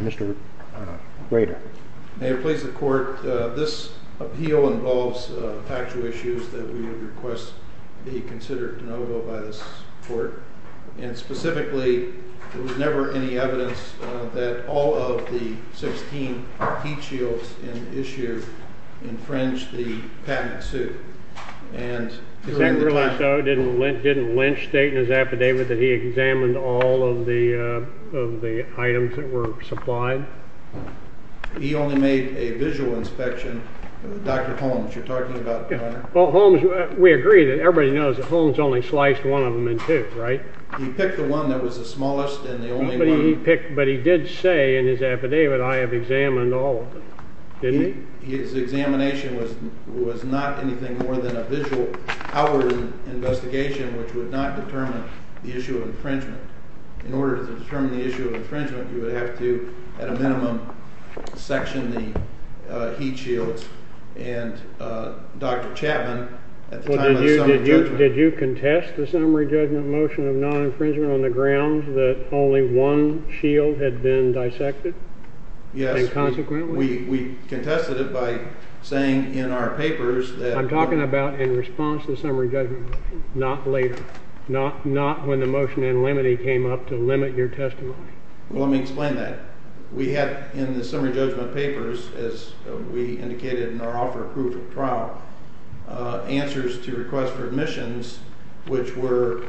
Mr. Rader, may it please the court, this appeal involves a factual issue that has to do with that we request to be considered de novo by this court, and specifically, there was never any evidence that all of the 16 heat shields in issue infringed the patent suit. And... Didn't Lynch state in his affidavit that he examined all of the items that were supplied? He only made a visual inspection. Dr. Holmes, you're talking about... Well, Holmes, we agree that everybody knows that Holmes only sliced one of them in two, right? He picked the one that was the smallest and the only one... But he did say in his affidavit, I have examined all of them, didn't he? His examination was not anything more than a visual power investigation which would not determine the issue of infringement. In order to determine the issue of infringement, you would have to, at a minimum, section the heat shields. And Dr. Chapman... Did you contest the summary judgment motion of non-infringement on the grounds that only one shield had been dissected? Yes. And consequently? We contested it by saying in our papers that... I'm talking about in response to the summary judgment motion, not later. Not when the motion in limine came up to limit your testimony. Well, let me explain that. We had in the summary judgment papers, as we indicated in our offer of proof of trial, answers to requests for admissions, which were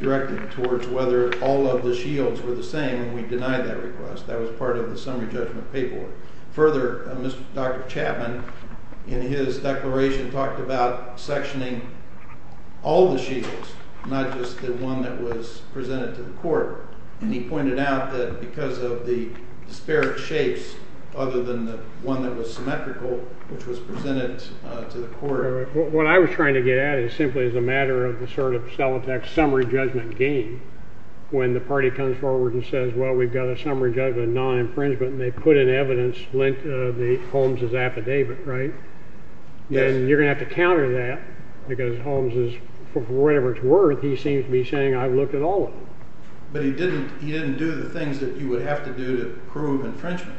directed towards whether all of the shields were the same, and we denied that request. That was part of the summary judgment paperwork. Further, Dr. Chapman, in his declaration, talked about sectioning all the shields, not just the one that was presented to the court. And he pointed out that because of the disparate shapes, other than the one that was symmetrical, which was presented to the court... What I was trying to get at is simply as a matter of the sort of Solitak summary judgment game, when the party comes forward and says, well, we've got a summary judgment non-infringement, and they put in evidence the Holmes' affidavit, right? Yes. Then you're going to have to counter that, because Holmes is, for whatever it's worth, he seems to be saying, I've looked at all of them. But he didn't do the things that you would have to do to prove infringement.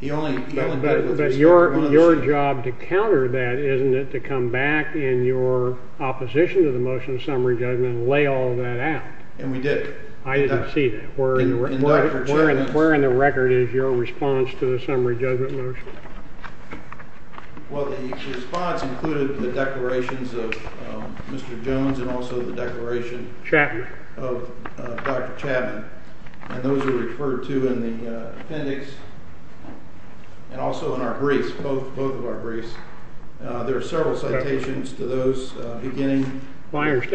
But your job to counter that is to come back in your opposition to the motion of summary judgment and lay all that out. And we did. I didn't see that. Where in the record is your response to the summary judgment motion? Well, the response included the declarations of Mr. Jones and also the declaration of Dr. Chapman. And those are referred to in the appendix and also in our briefs, both of our briefs. There are several citations to those beginning... You raised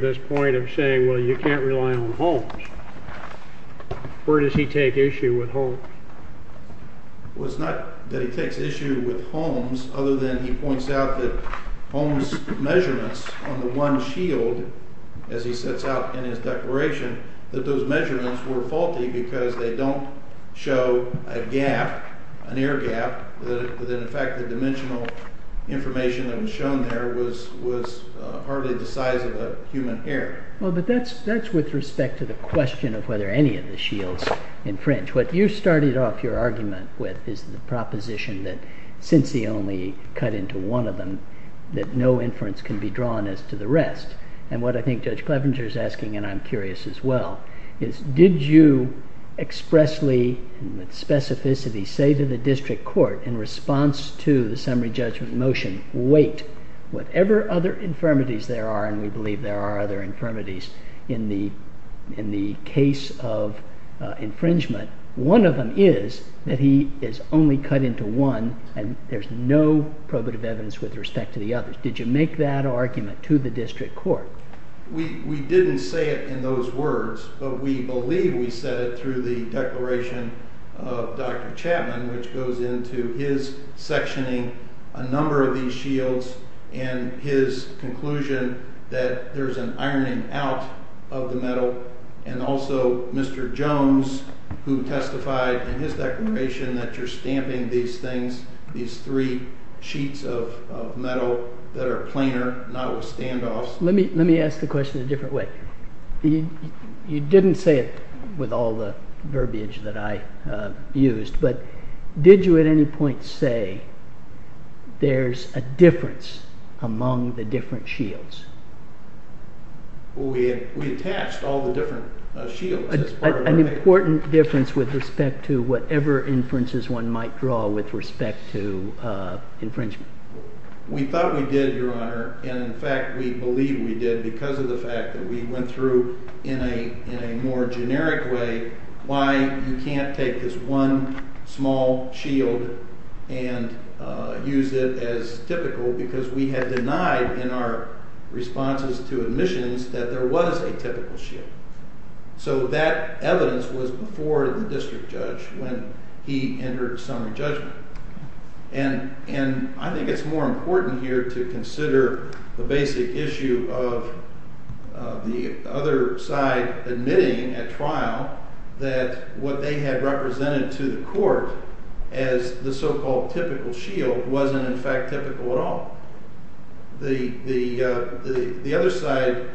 this point of saying, well, you can't rely on Holmes. Where does he take issue with Holmes? Well, it's not that he takes issue with Holmes other than he points out that Holmes' measurements on the one shield, as he sets out in his declaration, that those measurements were faulty because they don't show a gap, an air gap, that in fact the dimensional information that was shown there was hardly the size of a human hair. Well, but that's with respect to the question of whether any of the shields infringe. What you started off your argument with is the proposition that since he only cut into one of them, that no inference can be drawn as to the rest. And what I think Judge Clevenger is asking, and I'm curious as well, is did you expressly and with specificity say to the district court in response to the summary judgment motion, wait, whatever other infirmities there are, and we believe there are other infirmities in the case of infringement, one of them is that he is only cut into one and there's no probative evidence with respect to the others. Did you make that argument to the district court? We didn't say it in those words, but we believe we said it through the declaration of Dr. Chapman, which goes into his sectioning a number of these shields and his conclusion that there's an ironing out of the metal, and also Mr. Jones, who testified in his declaration that you're stamping these things, these three sheets of metal that are planar, not with standoffs. Let me ask the question a different way. You didn't say it with all the verbiage that I used, but did you at any point say there's a difference among the different shields? We attached all the different shields. An important difference with respect to whatever inferences one might draw with respect to infringement. We thought we did, Your Honor, and in fact we believe we did because of the fact that we went through in a more generic way why you can't take this one small shield and use it as typical because we had denied in our responses to admissions that there was a typical shield. So that evidence was before the district judge when he entered summary judgment. And I think it's more important here to consider the basic issue of the other side admitting at trial that what they had represented to the court as the so-called typical shield wasn't in fact typical at all. The other side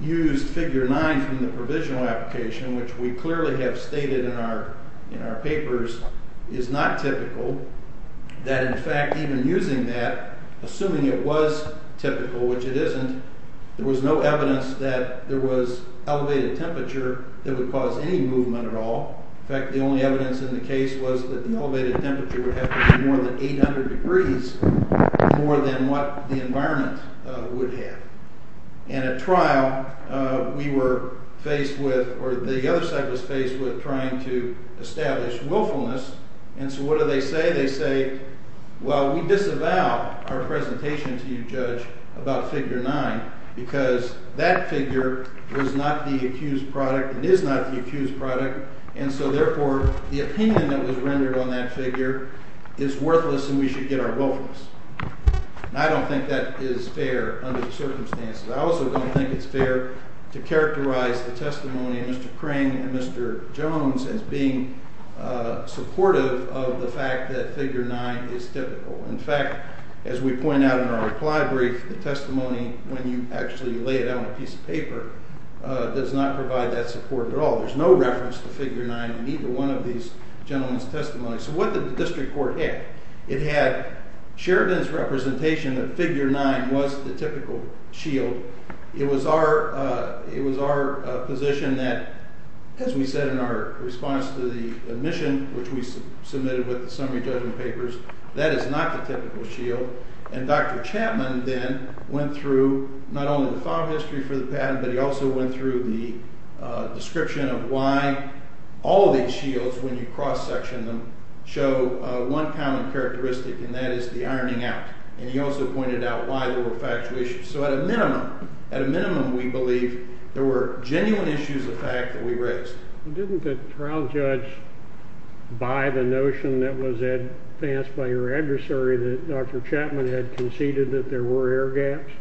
used figure 9 from the provisional application, which we clearly have stated in our papers is not typical. That in fact even using that, assuming it was typical, which it isn't, there was no evidence that there was elevated temperature that would cause any movement at all. In fact, the only evidence in the case was that the elevated temperature would have to be more than 800 degrees more than what the environment would have. And at trial, we were faced with, or the other side was faced with trying to establish willfulness. And so what do they say? They say, well, we disavow our presentation to you, Judge, about figure 9 because that figure was not the accused product and is not the accused product, and so therefore the opinion that was rendered on that figure is worthless and we should get our willfulness. And I don't think that is fair under the circumstances. I also don't think it's fair to characterize the testimony of Mr. Kring and Mr. Jones as being supportive of the fact that figure 9 is typical. In fact, as we point out in our reply brief, the testimony, when you actually lay it out on a piece of paper, does not provide that support at all. There's no reference to figure 9 in either one of these gentlemen's testimonies. So what did the district court have? It had Sheridan's representation that figure 9 was the typical shield. It was our position that, as we said in our response to the admission, which we submitted with the summary judgment papers, that is not the typical shield. And Dr. Chapman then went through not only the file history for the patent, but he also went through the description of why all of these shields, when you cross-section them, show one common characteristic, and that is the ironing out. And he also pointed out why there were factual issues. So at a minimum, at a minimum, we believe there were genuine issues of fact that we raised. Well, didn't the trial judge buy the notion that was advanced by your adversary that Dr. Chapman had conceded that there were air gaps?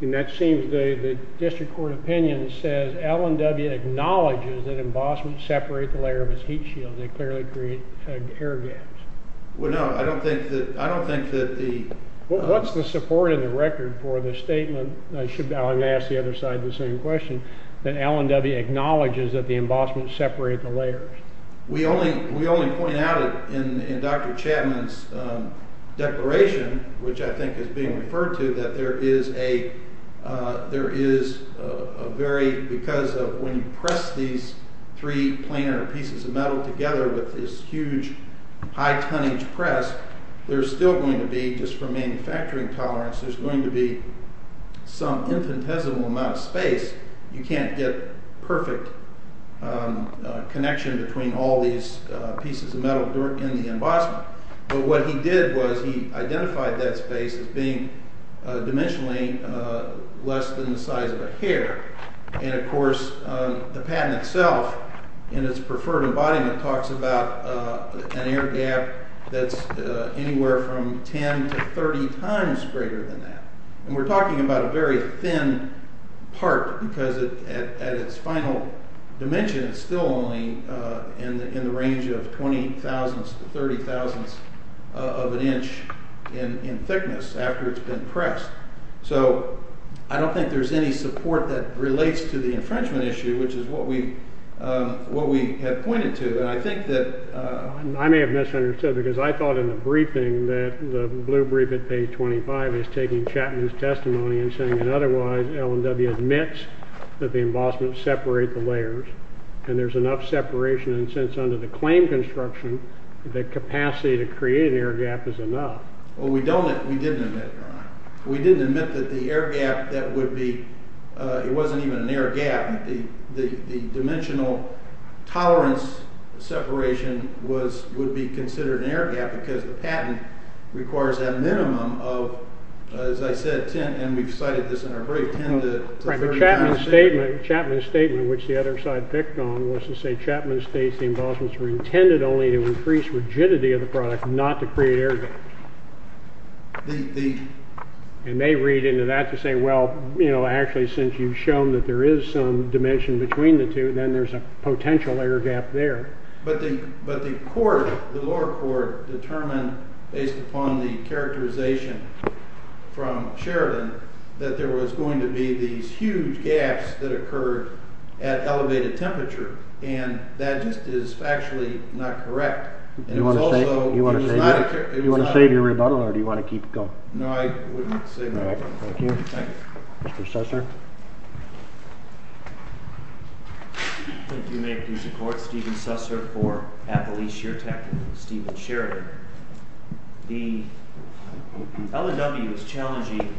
And that seems the district court opinion says Allen W. acknowledges that embossments separate the layer of his heat shield. They clearly create air gaps. Well, no, I don't think that the— What's the support in the record for the statement, should Allen ask the other side the same question, that Allen W. acknowledges that the embossments separate the layers? We only point out in Dr. Chapman's declaration, which I think is being referred to, that there is a very—because when you press these three planar pieces of metal together with this huge, high-tonnage press, there's still going to be, just from manufacturing tolerance, there's going to be some infinitesimal amount of space. You can't get perfect connection between all these pieces of metal in the embossment. But what he did was he identified that space as being dimensionally less than the size of a hair. And, of course, the patent itself, in its preferred embodiment, talks about an air gap that's anywhere from 10 to 30 times greater than that. And we're talking about a very thin part because at its final dimension, it's still only in the range of 20 thousandths to 30 thousandths of an inch in thickness after it's been pressed. So I don't think there's any support that relates to the infringement issue, which is what we have pointed to. And I think that— I may have misunderstood because I thought in the briefing that the blue brief at page 25 is taking Chapman's testimony and saying that otherwise Allen W. admits that the embossments separate the layers and there's enough separation. And since under the claim construction, the capacity to create an air gap is enough. Well, we don't—we didn't admit that, Ron. We didn't admit that the air gap that would be—it wasn't even an air gap. The dimensional tolerance separation would be considered an air gap because the patent requires a minimum of, as I said, 10— and we've cited this in our brief—10 to 30 times— Chapman's statement, which the other side picked on, was to say, Chapman states the embossments were intended only to increase rigidity of the product, not to create air gaps. And they read into that to say, well, you know, actually, since you've shown that there is some dimension between the two, then there's a potential air gap there. But the court, the lower court, determined, based upon the characterization from Sheridan, that there was going to be these huge gaps that occurred at elevated temperature. And that just is factually not correct. And it was also— Do you want to save your rebuttal, or do you want to keep going? No, I wouldn't save my rebuttal. All right. Thank you. Thank you. Mr. Susser. Thank you, Mayor, for your support. Stephen Susser for Appalachia Tech. Stephen Sheridan. The L&W is challenging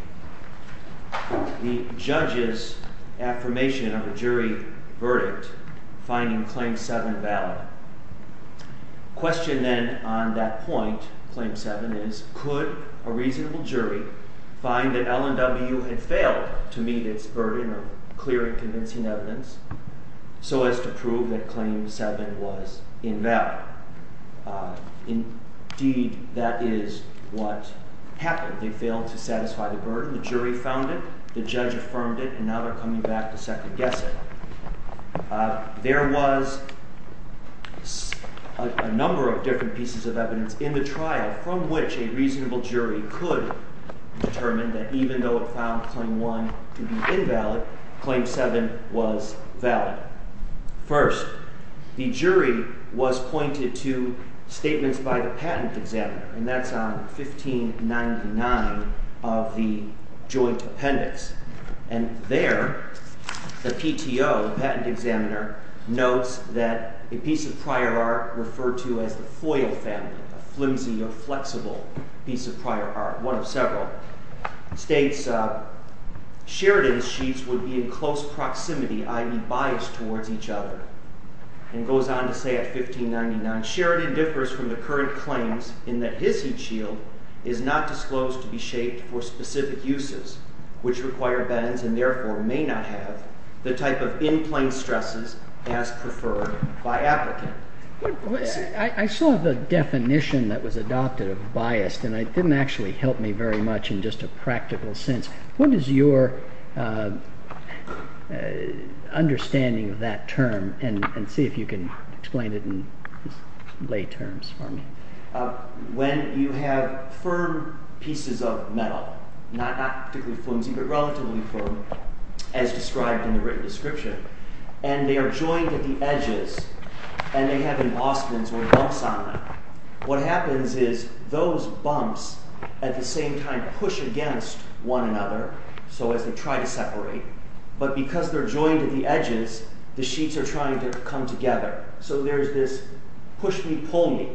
the judge's affirmation of a jury verdict, finding Claim 7 valid. Question, then, on that point, Claim 7, is could a reasonable jury find that L&W had failed to meet its burden of clear and convincing evidence so as to prove that Claim 7 was invalid? Indeed, that is what happened. They failed to satisfy the burden. The jury found it, the judge affirmed it, and now they're coming back to second-guess it. There was a number of different pieces of evidence in the trial from which a reasonable jury could determine that even though it found Claim 1 to be invalid, Claim 7 was valid. First, the jury was pointed to statements by the patent examiner, and that's on 1599 of the joint appendix. And there, the PTO, the patent examiner, notes that a piece of prior art referred to as the foil family, a flimsy or flexible piece of prior art, one of several, states Sheridan's sheets would be in close proximity, i.e., biased towards each other, and goes on to say at 1599, Sheridan differs from the current claims in that his heat shield is not disclosed to be shaped for specific uses, which require bends and therefore may not have the type of in-plane stresses as preferred by applicant. I saw the definition that was adopted of biased, and it didn't actually help me very much in just a practical sense. What is your understanding of that term, and see if you can explain it in lay terms for me. When you have firm pieces of metal, not particularly flimsy, but relatively firm, as described in the written description, and they are joined at the edges, and they have embossments or bumps on them, what happens is those bumps at the same time push against one another, so as they try to separate, but because they're joined at the edges, the sheets are trying to come together. So there's this push-me-pull-me,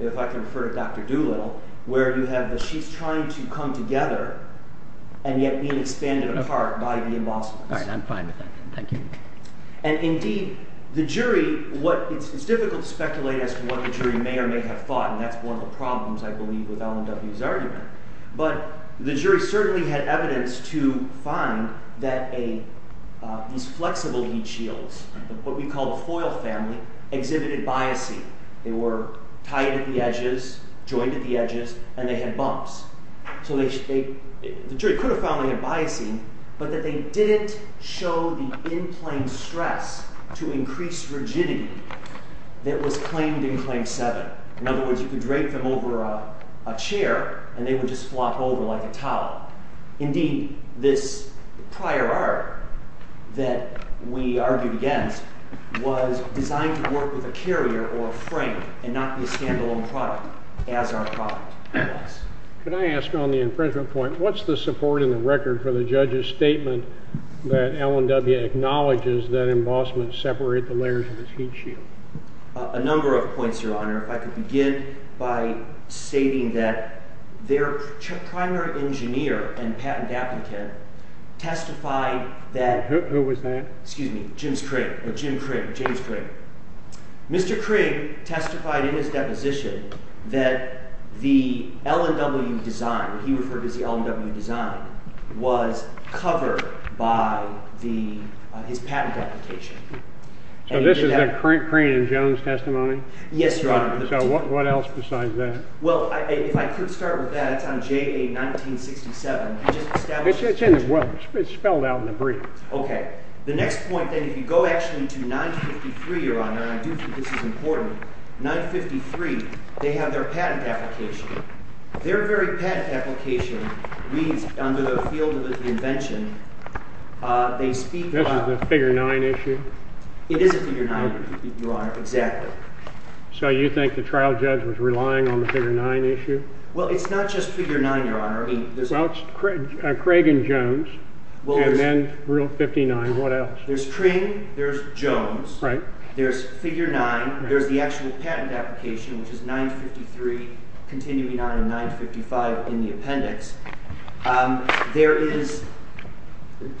if I can refer to Dr. Doolittle, where you have the sheets trying to come together, and yet being expanded apart by the embossments. All right, I'm fine with that. Thank you. And indeed, the jury, it's difficult to speculate as to what the jury may or may have thought, and that's one of the problems, I believe, with Allen W.'s argument, but the jury certainly had evidence to find that these flexible heat shields, what we call the foil family, exhibited biasing. They were tied at the edges, joined at the edges, and they had bumps. So the jury could have found they had biasing, but that they didn't show the in-plane stress to increase rigidity that was claimed in Claim 7. In other words, you could drape them over a chair, and they would just flop over like a towel. Indeed, this prior art that we argued against was designed to work with a carrier or a frame and not be a stand-alone product as our product was. Could I ask on the infringement point, what's the support in the record for the judge's statement that Allen W. acknowledges that embossments separate the layers of his heat shield? A number of points, Your Honor. I could begin by stating that their primary engineer and patent applicant testified that— Who was that? Excuse me, James Craig. Jim Craig, James Craig. Mr. Craig testified in his deposition that the Allen W. design, he referred to as the Allen W. design, was covered by his patent application. So this is a Crane and Jones testimony? Yes, Your Honor. So what else besides that? Well, if I could start with that, it's on JA 1967. It's spelled out in the brief. Okay. The next point, then, if you go actually to 953, Your Honor, and I do think this is important, 953, they have their patent application. Their very patent application reads under the field of the invention, they speak about— This is a figure 9 issue? It is a figure 9, Your Honor, exactly. So you think the trial judge was relying on the figure 9 issue? Well, it's not just figure 9, Your Honor. Well, it's Craig and Jones, and then Rule 59. What else? There's Crane, there's Jones, there's figure 9, there's the actual patent application, which is 953 continuing on in 955 in the appendix. There is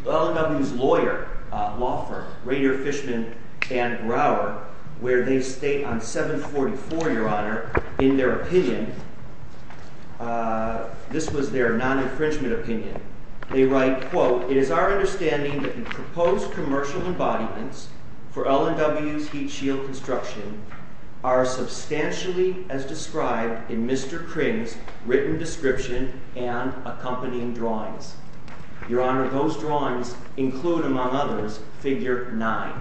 Allen W.'s lawyer, law firm, Rainier, Fishman, and Grauer, where they state on 744, Your Honor, in their opinion, this was their non-infringement opinion. They write, quote, It is our understanding that the proposed commercial embodiments for Allen W.'s heat shield construction are substantially as described in Mr. Crane's written description and accompanying drawings. Your Honor, those drawings include, among others, figure 9.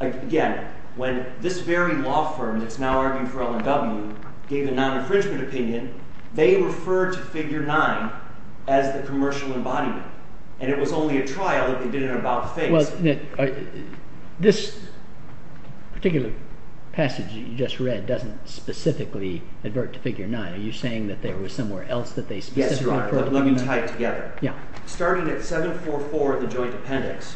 Again, when this very law firm that's now arguing for Allen W. gave a non-infringement opinion, they referred to figure 9 as the commercial embodiment, and it was only a trial that they did an about-face. Well, this particular passage that you just read doesn't specifically advert to figure 9. Are you saying that there was somewhere else that they specifically— Yes, Your Honor, but let me tie it together. Starting at 744 in the joint appendix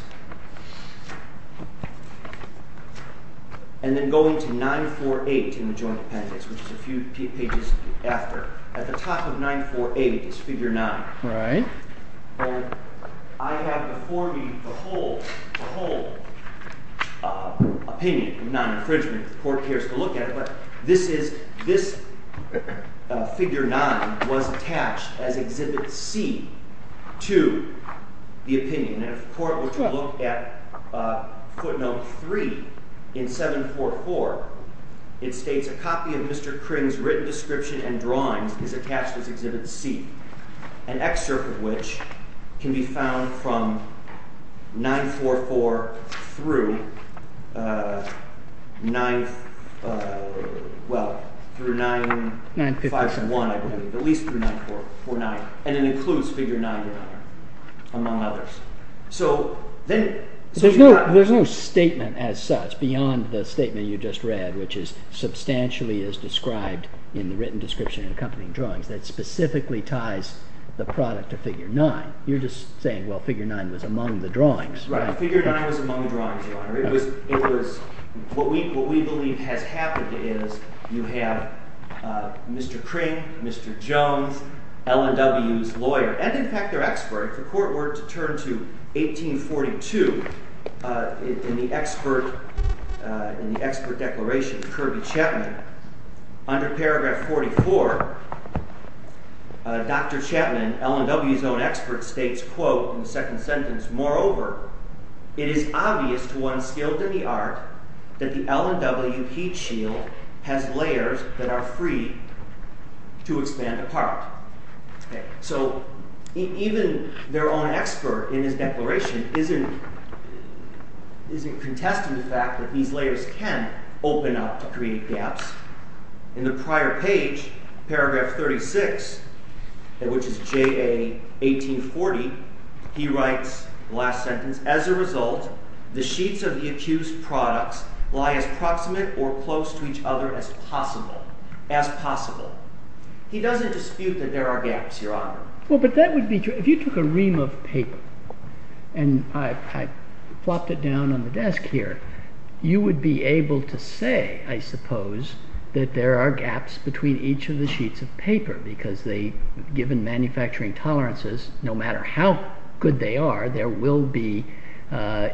and then going to 948 in the joint appendix, which is a few pages after, at the top of 948 is figure 9. Right. I have before me the whole opinion of non-infringement. The Court cares to look at it, but this figure 9 was attached as Exhibit C to the opinion. And if the Court were to look at footnote 3 in 744, it states, A copy of Mr. Crane's written description and drawings is attached as Exhibit C, an excerpt of which can be found from 944 through 951, I believe, at least through 949, and it includes figure 9, Your Honor, among others. There's no statement as such beyond the statement you just read, which is substantially as described in the written description and accompanying drawings that specifically ties the product to figure 9. You're just saying, well, figure 9 was among the drawings, right? Right. Figure 9 was among the drawings, Your Honor. It was—what we believe has happened is you have Mr. Crane, Mr. Jones, L&W's lawyer, and in fact their expert, if the Court were to turn to 1842 in the expert declaration of Kirby Chapman, under paragraph 44, Dr. Chapman, L&W's own expert, states, quote, in the second sentence, Moreover, it is obvious to one skilled in the art that the L&W heat shield has layers that are free to expand apart. So even their own expert in his declaration isn't contesting the fact that these layers can open up to create gaps. In the prior page, paragraph 36, which is JA 1840, he writes, last sentence, As a result, the sheets of the accused's products lie as proximate or close to each other as possible. He doesn't dispute that there are gaps, Your Honor. Well, but that would be—if you took a ream of paper and I plopped it down on the desk here, you would be able to say, I suppose, that there are gaps between each of the sheets of paper because they—given manufacturing tolerances, no matter how good they are, there will be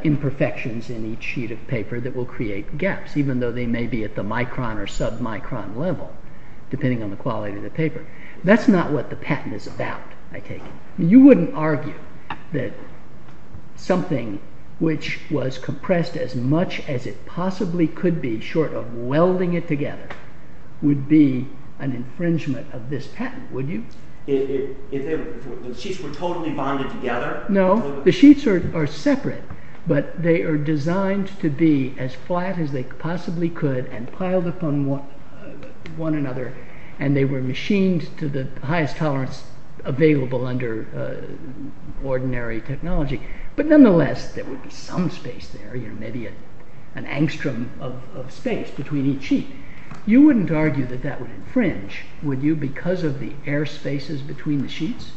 imperfections in each sheet of paper that will create gaps, even though they may be at the micron or submicron level, depending on the quality of the paper. That's not what the patent is about, I take it. You wouldn't argue that something which was compressed as much as it possibly could be, short of welding it together, would be an infringement of this patent, would you? If the sheets were totally bonded together? No, the sheets are separate, but they are designed to be as flat as they possibly could and piled upon one another, and they were machined to the highest tolerance available under ordinary technology. But nonetheless, there would be some space there, maybe an angstrom of space between each sheet. You wouldn't argue that that would infringe, would you, because of the air spaces between the sheets?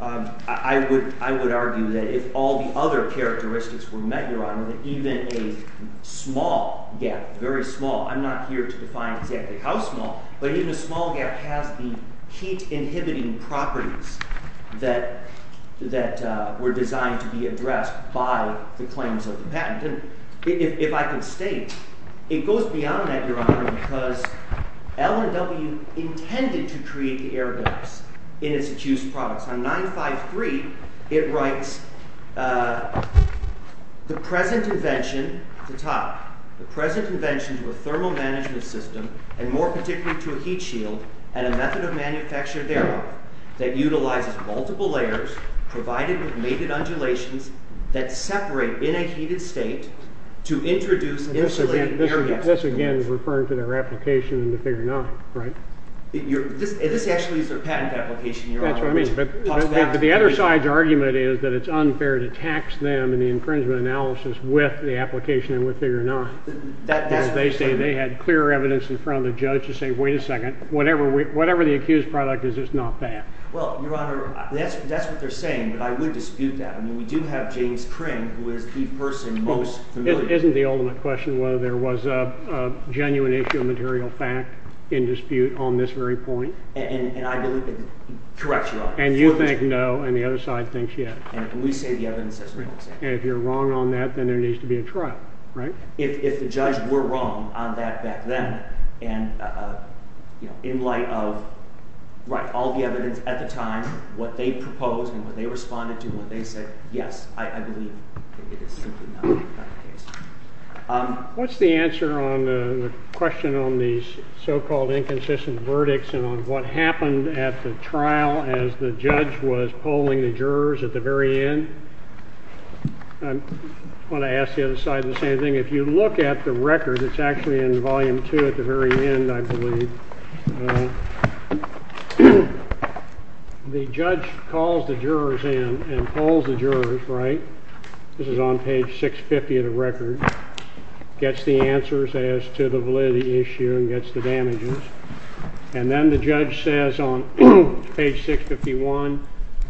I would argue that if all the other characteristics were met, Your Honor, that even a small gap—very small, I'm not here to define exactly how small— but even a small gap has the heat-inhibiting properties that were designed to be addressed by the claims of the patent. If I can state, it goes beyond that, Your Honor, because L&W intended to create the air gaps in its accused products. On 953, it writes, The present invention to a thermal management system, and more particularly to a heat shield, and a method of manufacture thereof, that utilizes multiple layers provided with mated undulations that separate in a heated state to introduce insulated air gaps. This again is referring to their application in the Figure 9, right? That's what I mean, but the other side's argument is that it's unfair to tax them in the infringement analysis with the application in the Figure 9, because they say they had clear evidence in front of the judge to say, wait a second, whatever the accused product is, it's not bad. Well, Your Honor, that's what they're saying, but I would dispute that. I mean, we do have James Crane, who is the person most familiar with it. Isn't the ultimate question whether there was a genuine issue of material fact in dispute on this very point? Correct Your Honor. And you think no, and the other side thinks yes. And we say the evidence says we don't say it. And if you're wrong on that, then there needs to be a trial, right? If the judge were wrong on that back then, and in light of all the evidence at the time, what they proposed and what they responded to and what they said, yes, I believe it is simply not the case. What's the answer on the question on these so-called inconsistent verdicts and on what happened at the trial as the judge was polling the jurors at the very end? I want to ask the other side the same thing. If you look at the record, it's actually in Volume 2 at the very end, I believe. The judge calls the jurors in and polls the jurors, right? This is on page 650 of the record. Gets the answers as to the validity issue and gets the damages. And then the judge says on page 651,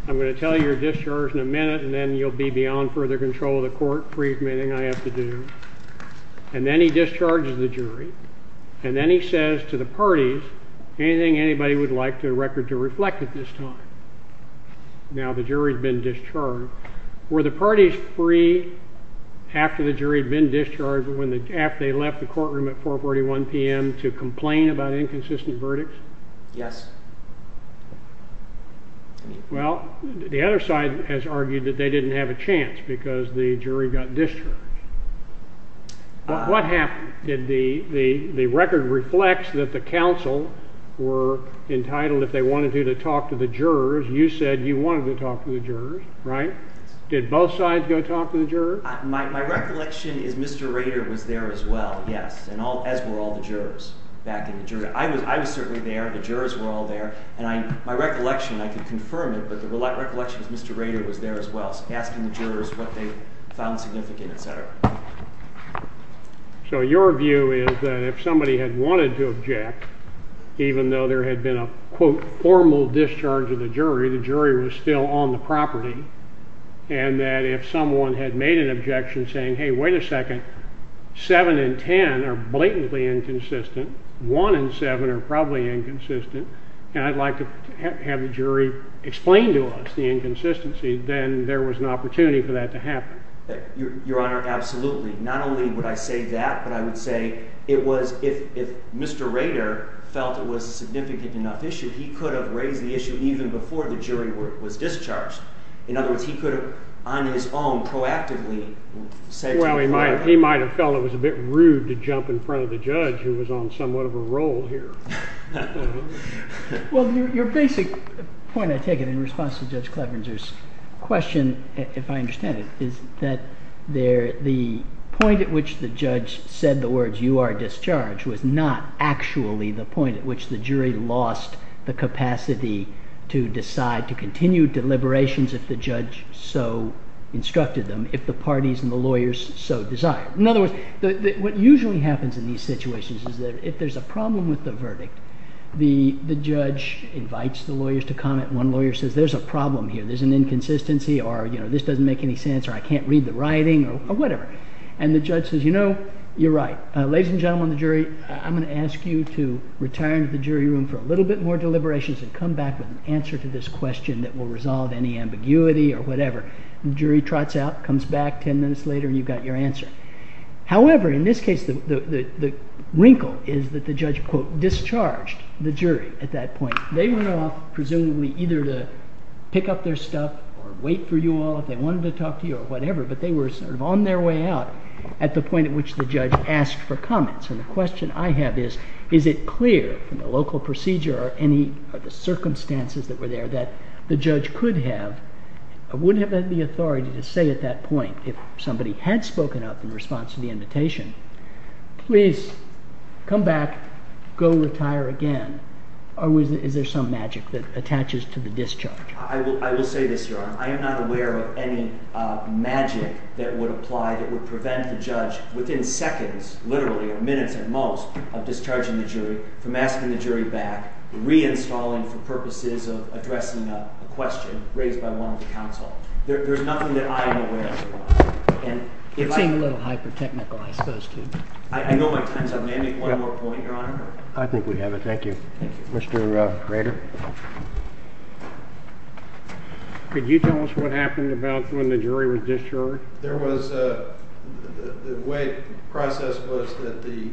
I'm going to tell you you're discharged in a minute and then you'll be beyond further control of the court. Free from anything I have to do. And then he discharges the jury. And then he says to the parties anything anybody would like the record to reflect at this time. Now the jury's been discharged. Were the parties free after the jury had been discharged, after they left the courtroom at 4.41 p.m. to complain about inconsistent verdicts? Yes. Well, the other side has argued that they didn't have a chance because the jury got discharged. What happened? The record reflects that the counsel were entitled, if they wanted to, to talk to the jurors. You said you wanted to talk to the jurors, right? Did both sides go talk to the jurors? My recollection is Mr. Rader was there as well, yes, as were all the jurors back in the jury. I was certainly there. The jurors were all there. And my recollection, I can confirm it, but the recollection is Mr. Rader was there as well, asking the jurors what they found significant, et cetera. So your view is that if somebody had wanted to object, even though there had been a, quote, formal discharge of the jury, the jury was still on the property, and that if someone had made an objection saying, hey, wait a second, seven and ten are blatantly inconsistent, one and seven are probably inconsistent, and I'd like to have the jury explain to us the inconsistency, then there was an opportunity for that to happen. Your Honor, absolutely. Not only would I say that, but I would say it was if Mr. Rader felt it was a significant enough issue, he could have raised the issue even before the jury was discharged. In other words, he could have, on his own, proactively said to the jury. Well, he might have felt it was a bit rude to jump in front of the judge who was on somewhat of a roll here. Well, your basic point, I take it, in response to Judge Cleveringer's question, if I understand it, is that the point at which the judge said the words, you are discharged, was not actually the point at which the jury lost the capacity to decide to continue deliberations if the judge so instructed them, if the parties and the lawyers so desired. In other words, what usually happens in these situations is that if there's a problem with the verdict, the judge invites the lawyers to comment, one lawyer says, there's a problem here, there's an inconsistency, or this doesn't make any sense, or I can't read the writing, or whatever. And the judge says, you know, you're right. Ladies and gentlemen of the jury, I'm going to ask you to retire into the jury room for a little bit more deliberations and come back with an answer to this question that will resolve any ambiguity or whatever. The jury trots out, comes back ten minutes later, and you've got your answer. However, in this case, the wrinkle is that the judge, quote, discharged the jury at that point. They went off presumably either to pick up their stuff or wait for you all if they wanted to talk to you or whatever, but they were sort of on their way out at the point at which the judge asked for comments. And the question I have is, is it clear from the local procedure or any of the circumstances that were there that the judge could have or would have had the authority to say at that point, if somebody had spoken up in response to the invitation, please come back, go retire again, or is there some magic that attaches to the discharge? I will say this, Your Honor. I am not aware of any magic that would apply that would prevent the judge within seconds, literally, or minutes at most of discharging the jury from asking the jury back, reinstalling for purposes of addressing a question raised by one of the counsel. There's nothing that I am aware of. You're being a little hyper-technical, I suppose, too. I know my time's up. May I make one more point, Your Honor? I think we have it. Thank you. Mr. Rader? Could you tell us what happened about when the jury was discharged? The way the process was that the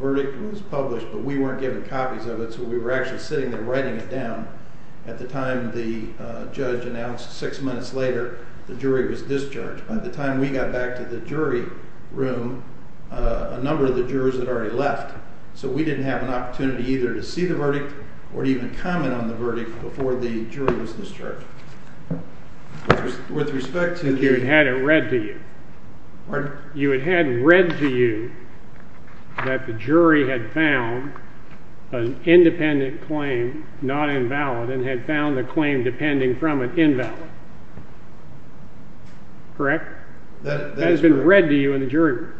verdict was published, but we weren't given copies of it, so we were actually sitting there writing it down. At the time the judge announced six minutes later the jury was discharged. By the time we got back to the jury room, a number of the jurors had already left, so we didn't have an opportunity either to see the verdict or to even comment on the verdict before the jury was discharged. With respect to the— You would have had it read to you. Pardon? You would have had it read to you that the jury had found an independent claim not invalid and had found the claim depending from an invalid. Correct? That is correct. That has been read to you in the jury room.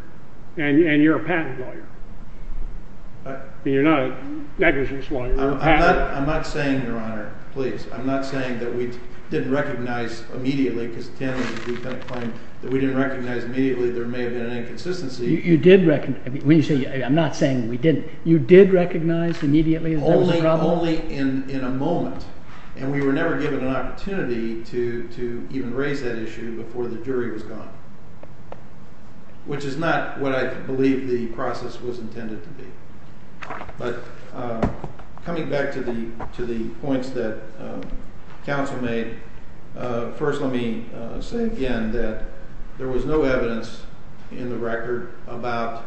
And you're a patent lawyer. You're not a negligence lawyer. I'm not saying, Your Honor, please. I'm not saying that we didn't recognize immediately, because Tanner was a defendant claiming that we didn't recognize immediately there may have been an inconsistency. You did recognize—I'm not saying we didn't. You did recognize immediately that there was a problem? Only in a moment. And we were never given an opportunity to even raise that issue before the jury was gone, which is not what I believe the process was intended to be. But coming back to the points that counsel made, first let me say again that there was no evidence in the record about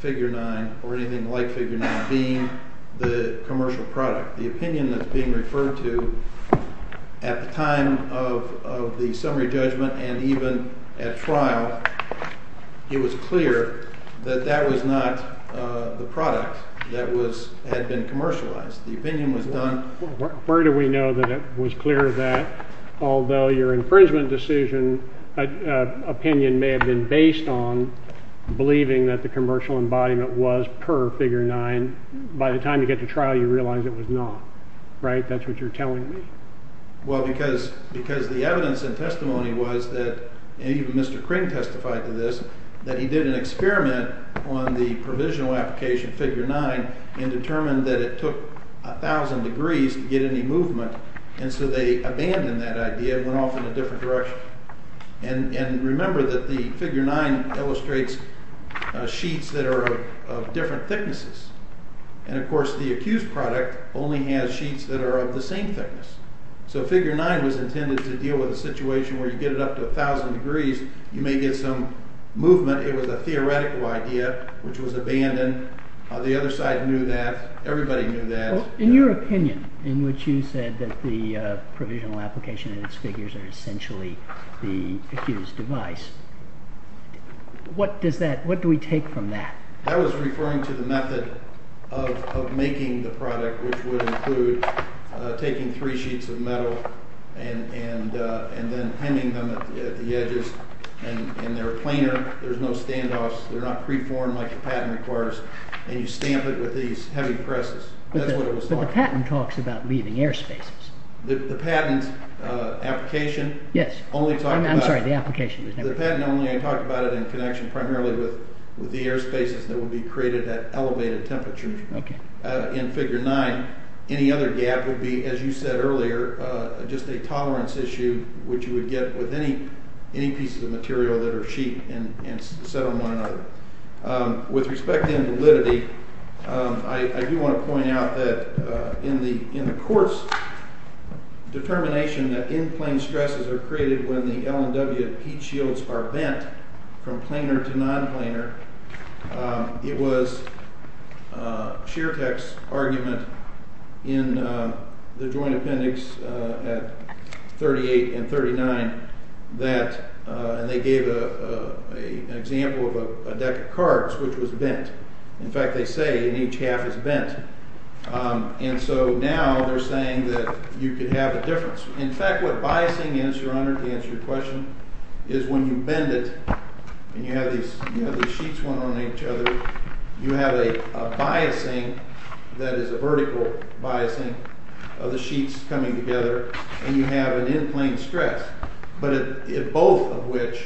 Figure 9 or anything like Figure 9 being the commercial product. The opinion that's being referred to at the time of the summary judgment and even at trial, it was clear that that was not the product that had been commercialized. The opinion was done— Where do we know that it was clear that, although your infringement decision opinion may have been based on believing that the commercial embodiment was per Figure 9, by the time you get to trial you realize it was not, right? That's what you're telling me. Well, because the evidence and testimony was that— and even Mr. Kring testified to this— that he did an experiment on the provisional application, Figure 9, and determined that it took 1,000 degrees to get any movement, and so they abandoned that idea and went off in a different direction. And remember that the Figure 9 illustrates sheets that are of different thicknesses. And, of course, the accused product only has sheets that are of the same thickness. So Figure 9 was intended to deal with a situation where you get it up to 1,000 degrees, you may get some movement. It was a theoretical idea, which was abandoned. The other side knew that. Everybody knew that. In your opinion, in which you said that the provisional application and its figures are essentially the accused's device, what do we take from that? I was referring to the method of making the product, which would include taking three sheets of metal and then hemming them at the edges. And they're planar. There's no standoffs. They're not preformed like the patent requires. And you stamp it with these heavy presses. That's what it was for. But the patent talks about leaving air spaces. The patent application only talked about— I'm sorry, the application was never— The patent only talked about it in connection primarily with the air spaces that would be created at elevated temperatures. In Figure 9, any other gap would be, as you said earlier, just a tolerance issue, which you would get with any pieces of material that are sheet and set on one another. With respect to invalidity, I do want to point out that in the court's determination that in-plane stresses are created when the L and W heat shields are bent from planar to non-planar, it was Schertek's argument in the joint appendix at 38 and 39 that— and they gave an example of a deck of cards which was bent. In fact, they say in each half is bent. And so now they're saying that you could have a difference. In fact, what biasing is, Your Honor, to answer your question, is when you bend it and you have these sheets one on each other, you have a biasing that is a vertical biasing of the sheets coming together, and you have an in-plane stress, but both of which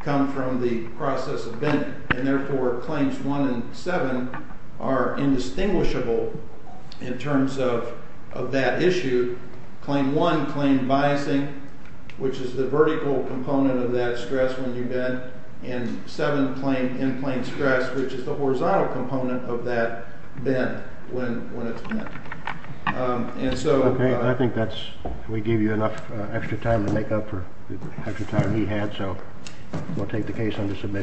come from the process of bending. And therefore, Claims 1 and 7 are indistinguishable in terms of that issue. Claim 1 claimed biasing, which is the vertical component of that stress when you bend, and 7 claimed in-plane stress, which is the horizontal component of that bend when it's bent. And so— Okay. I think that's—we gave you enough extra time to make up for the extra time he had, so we'll take the case under submission.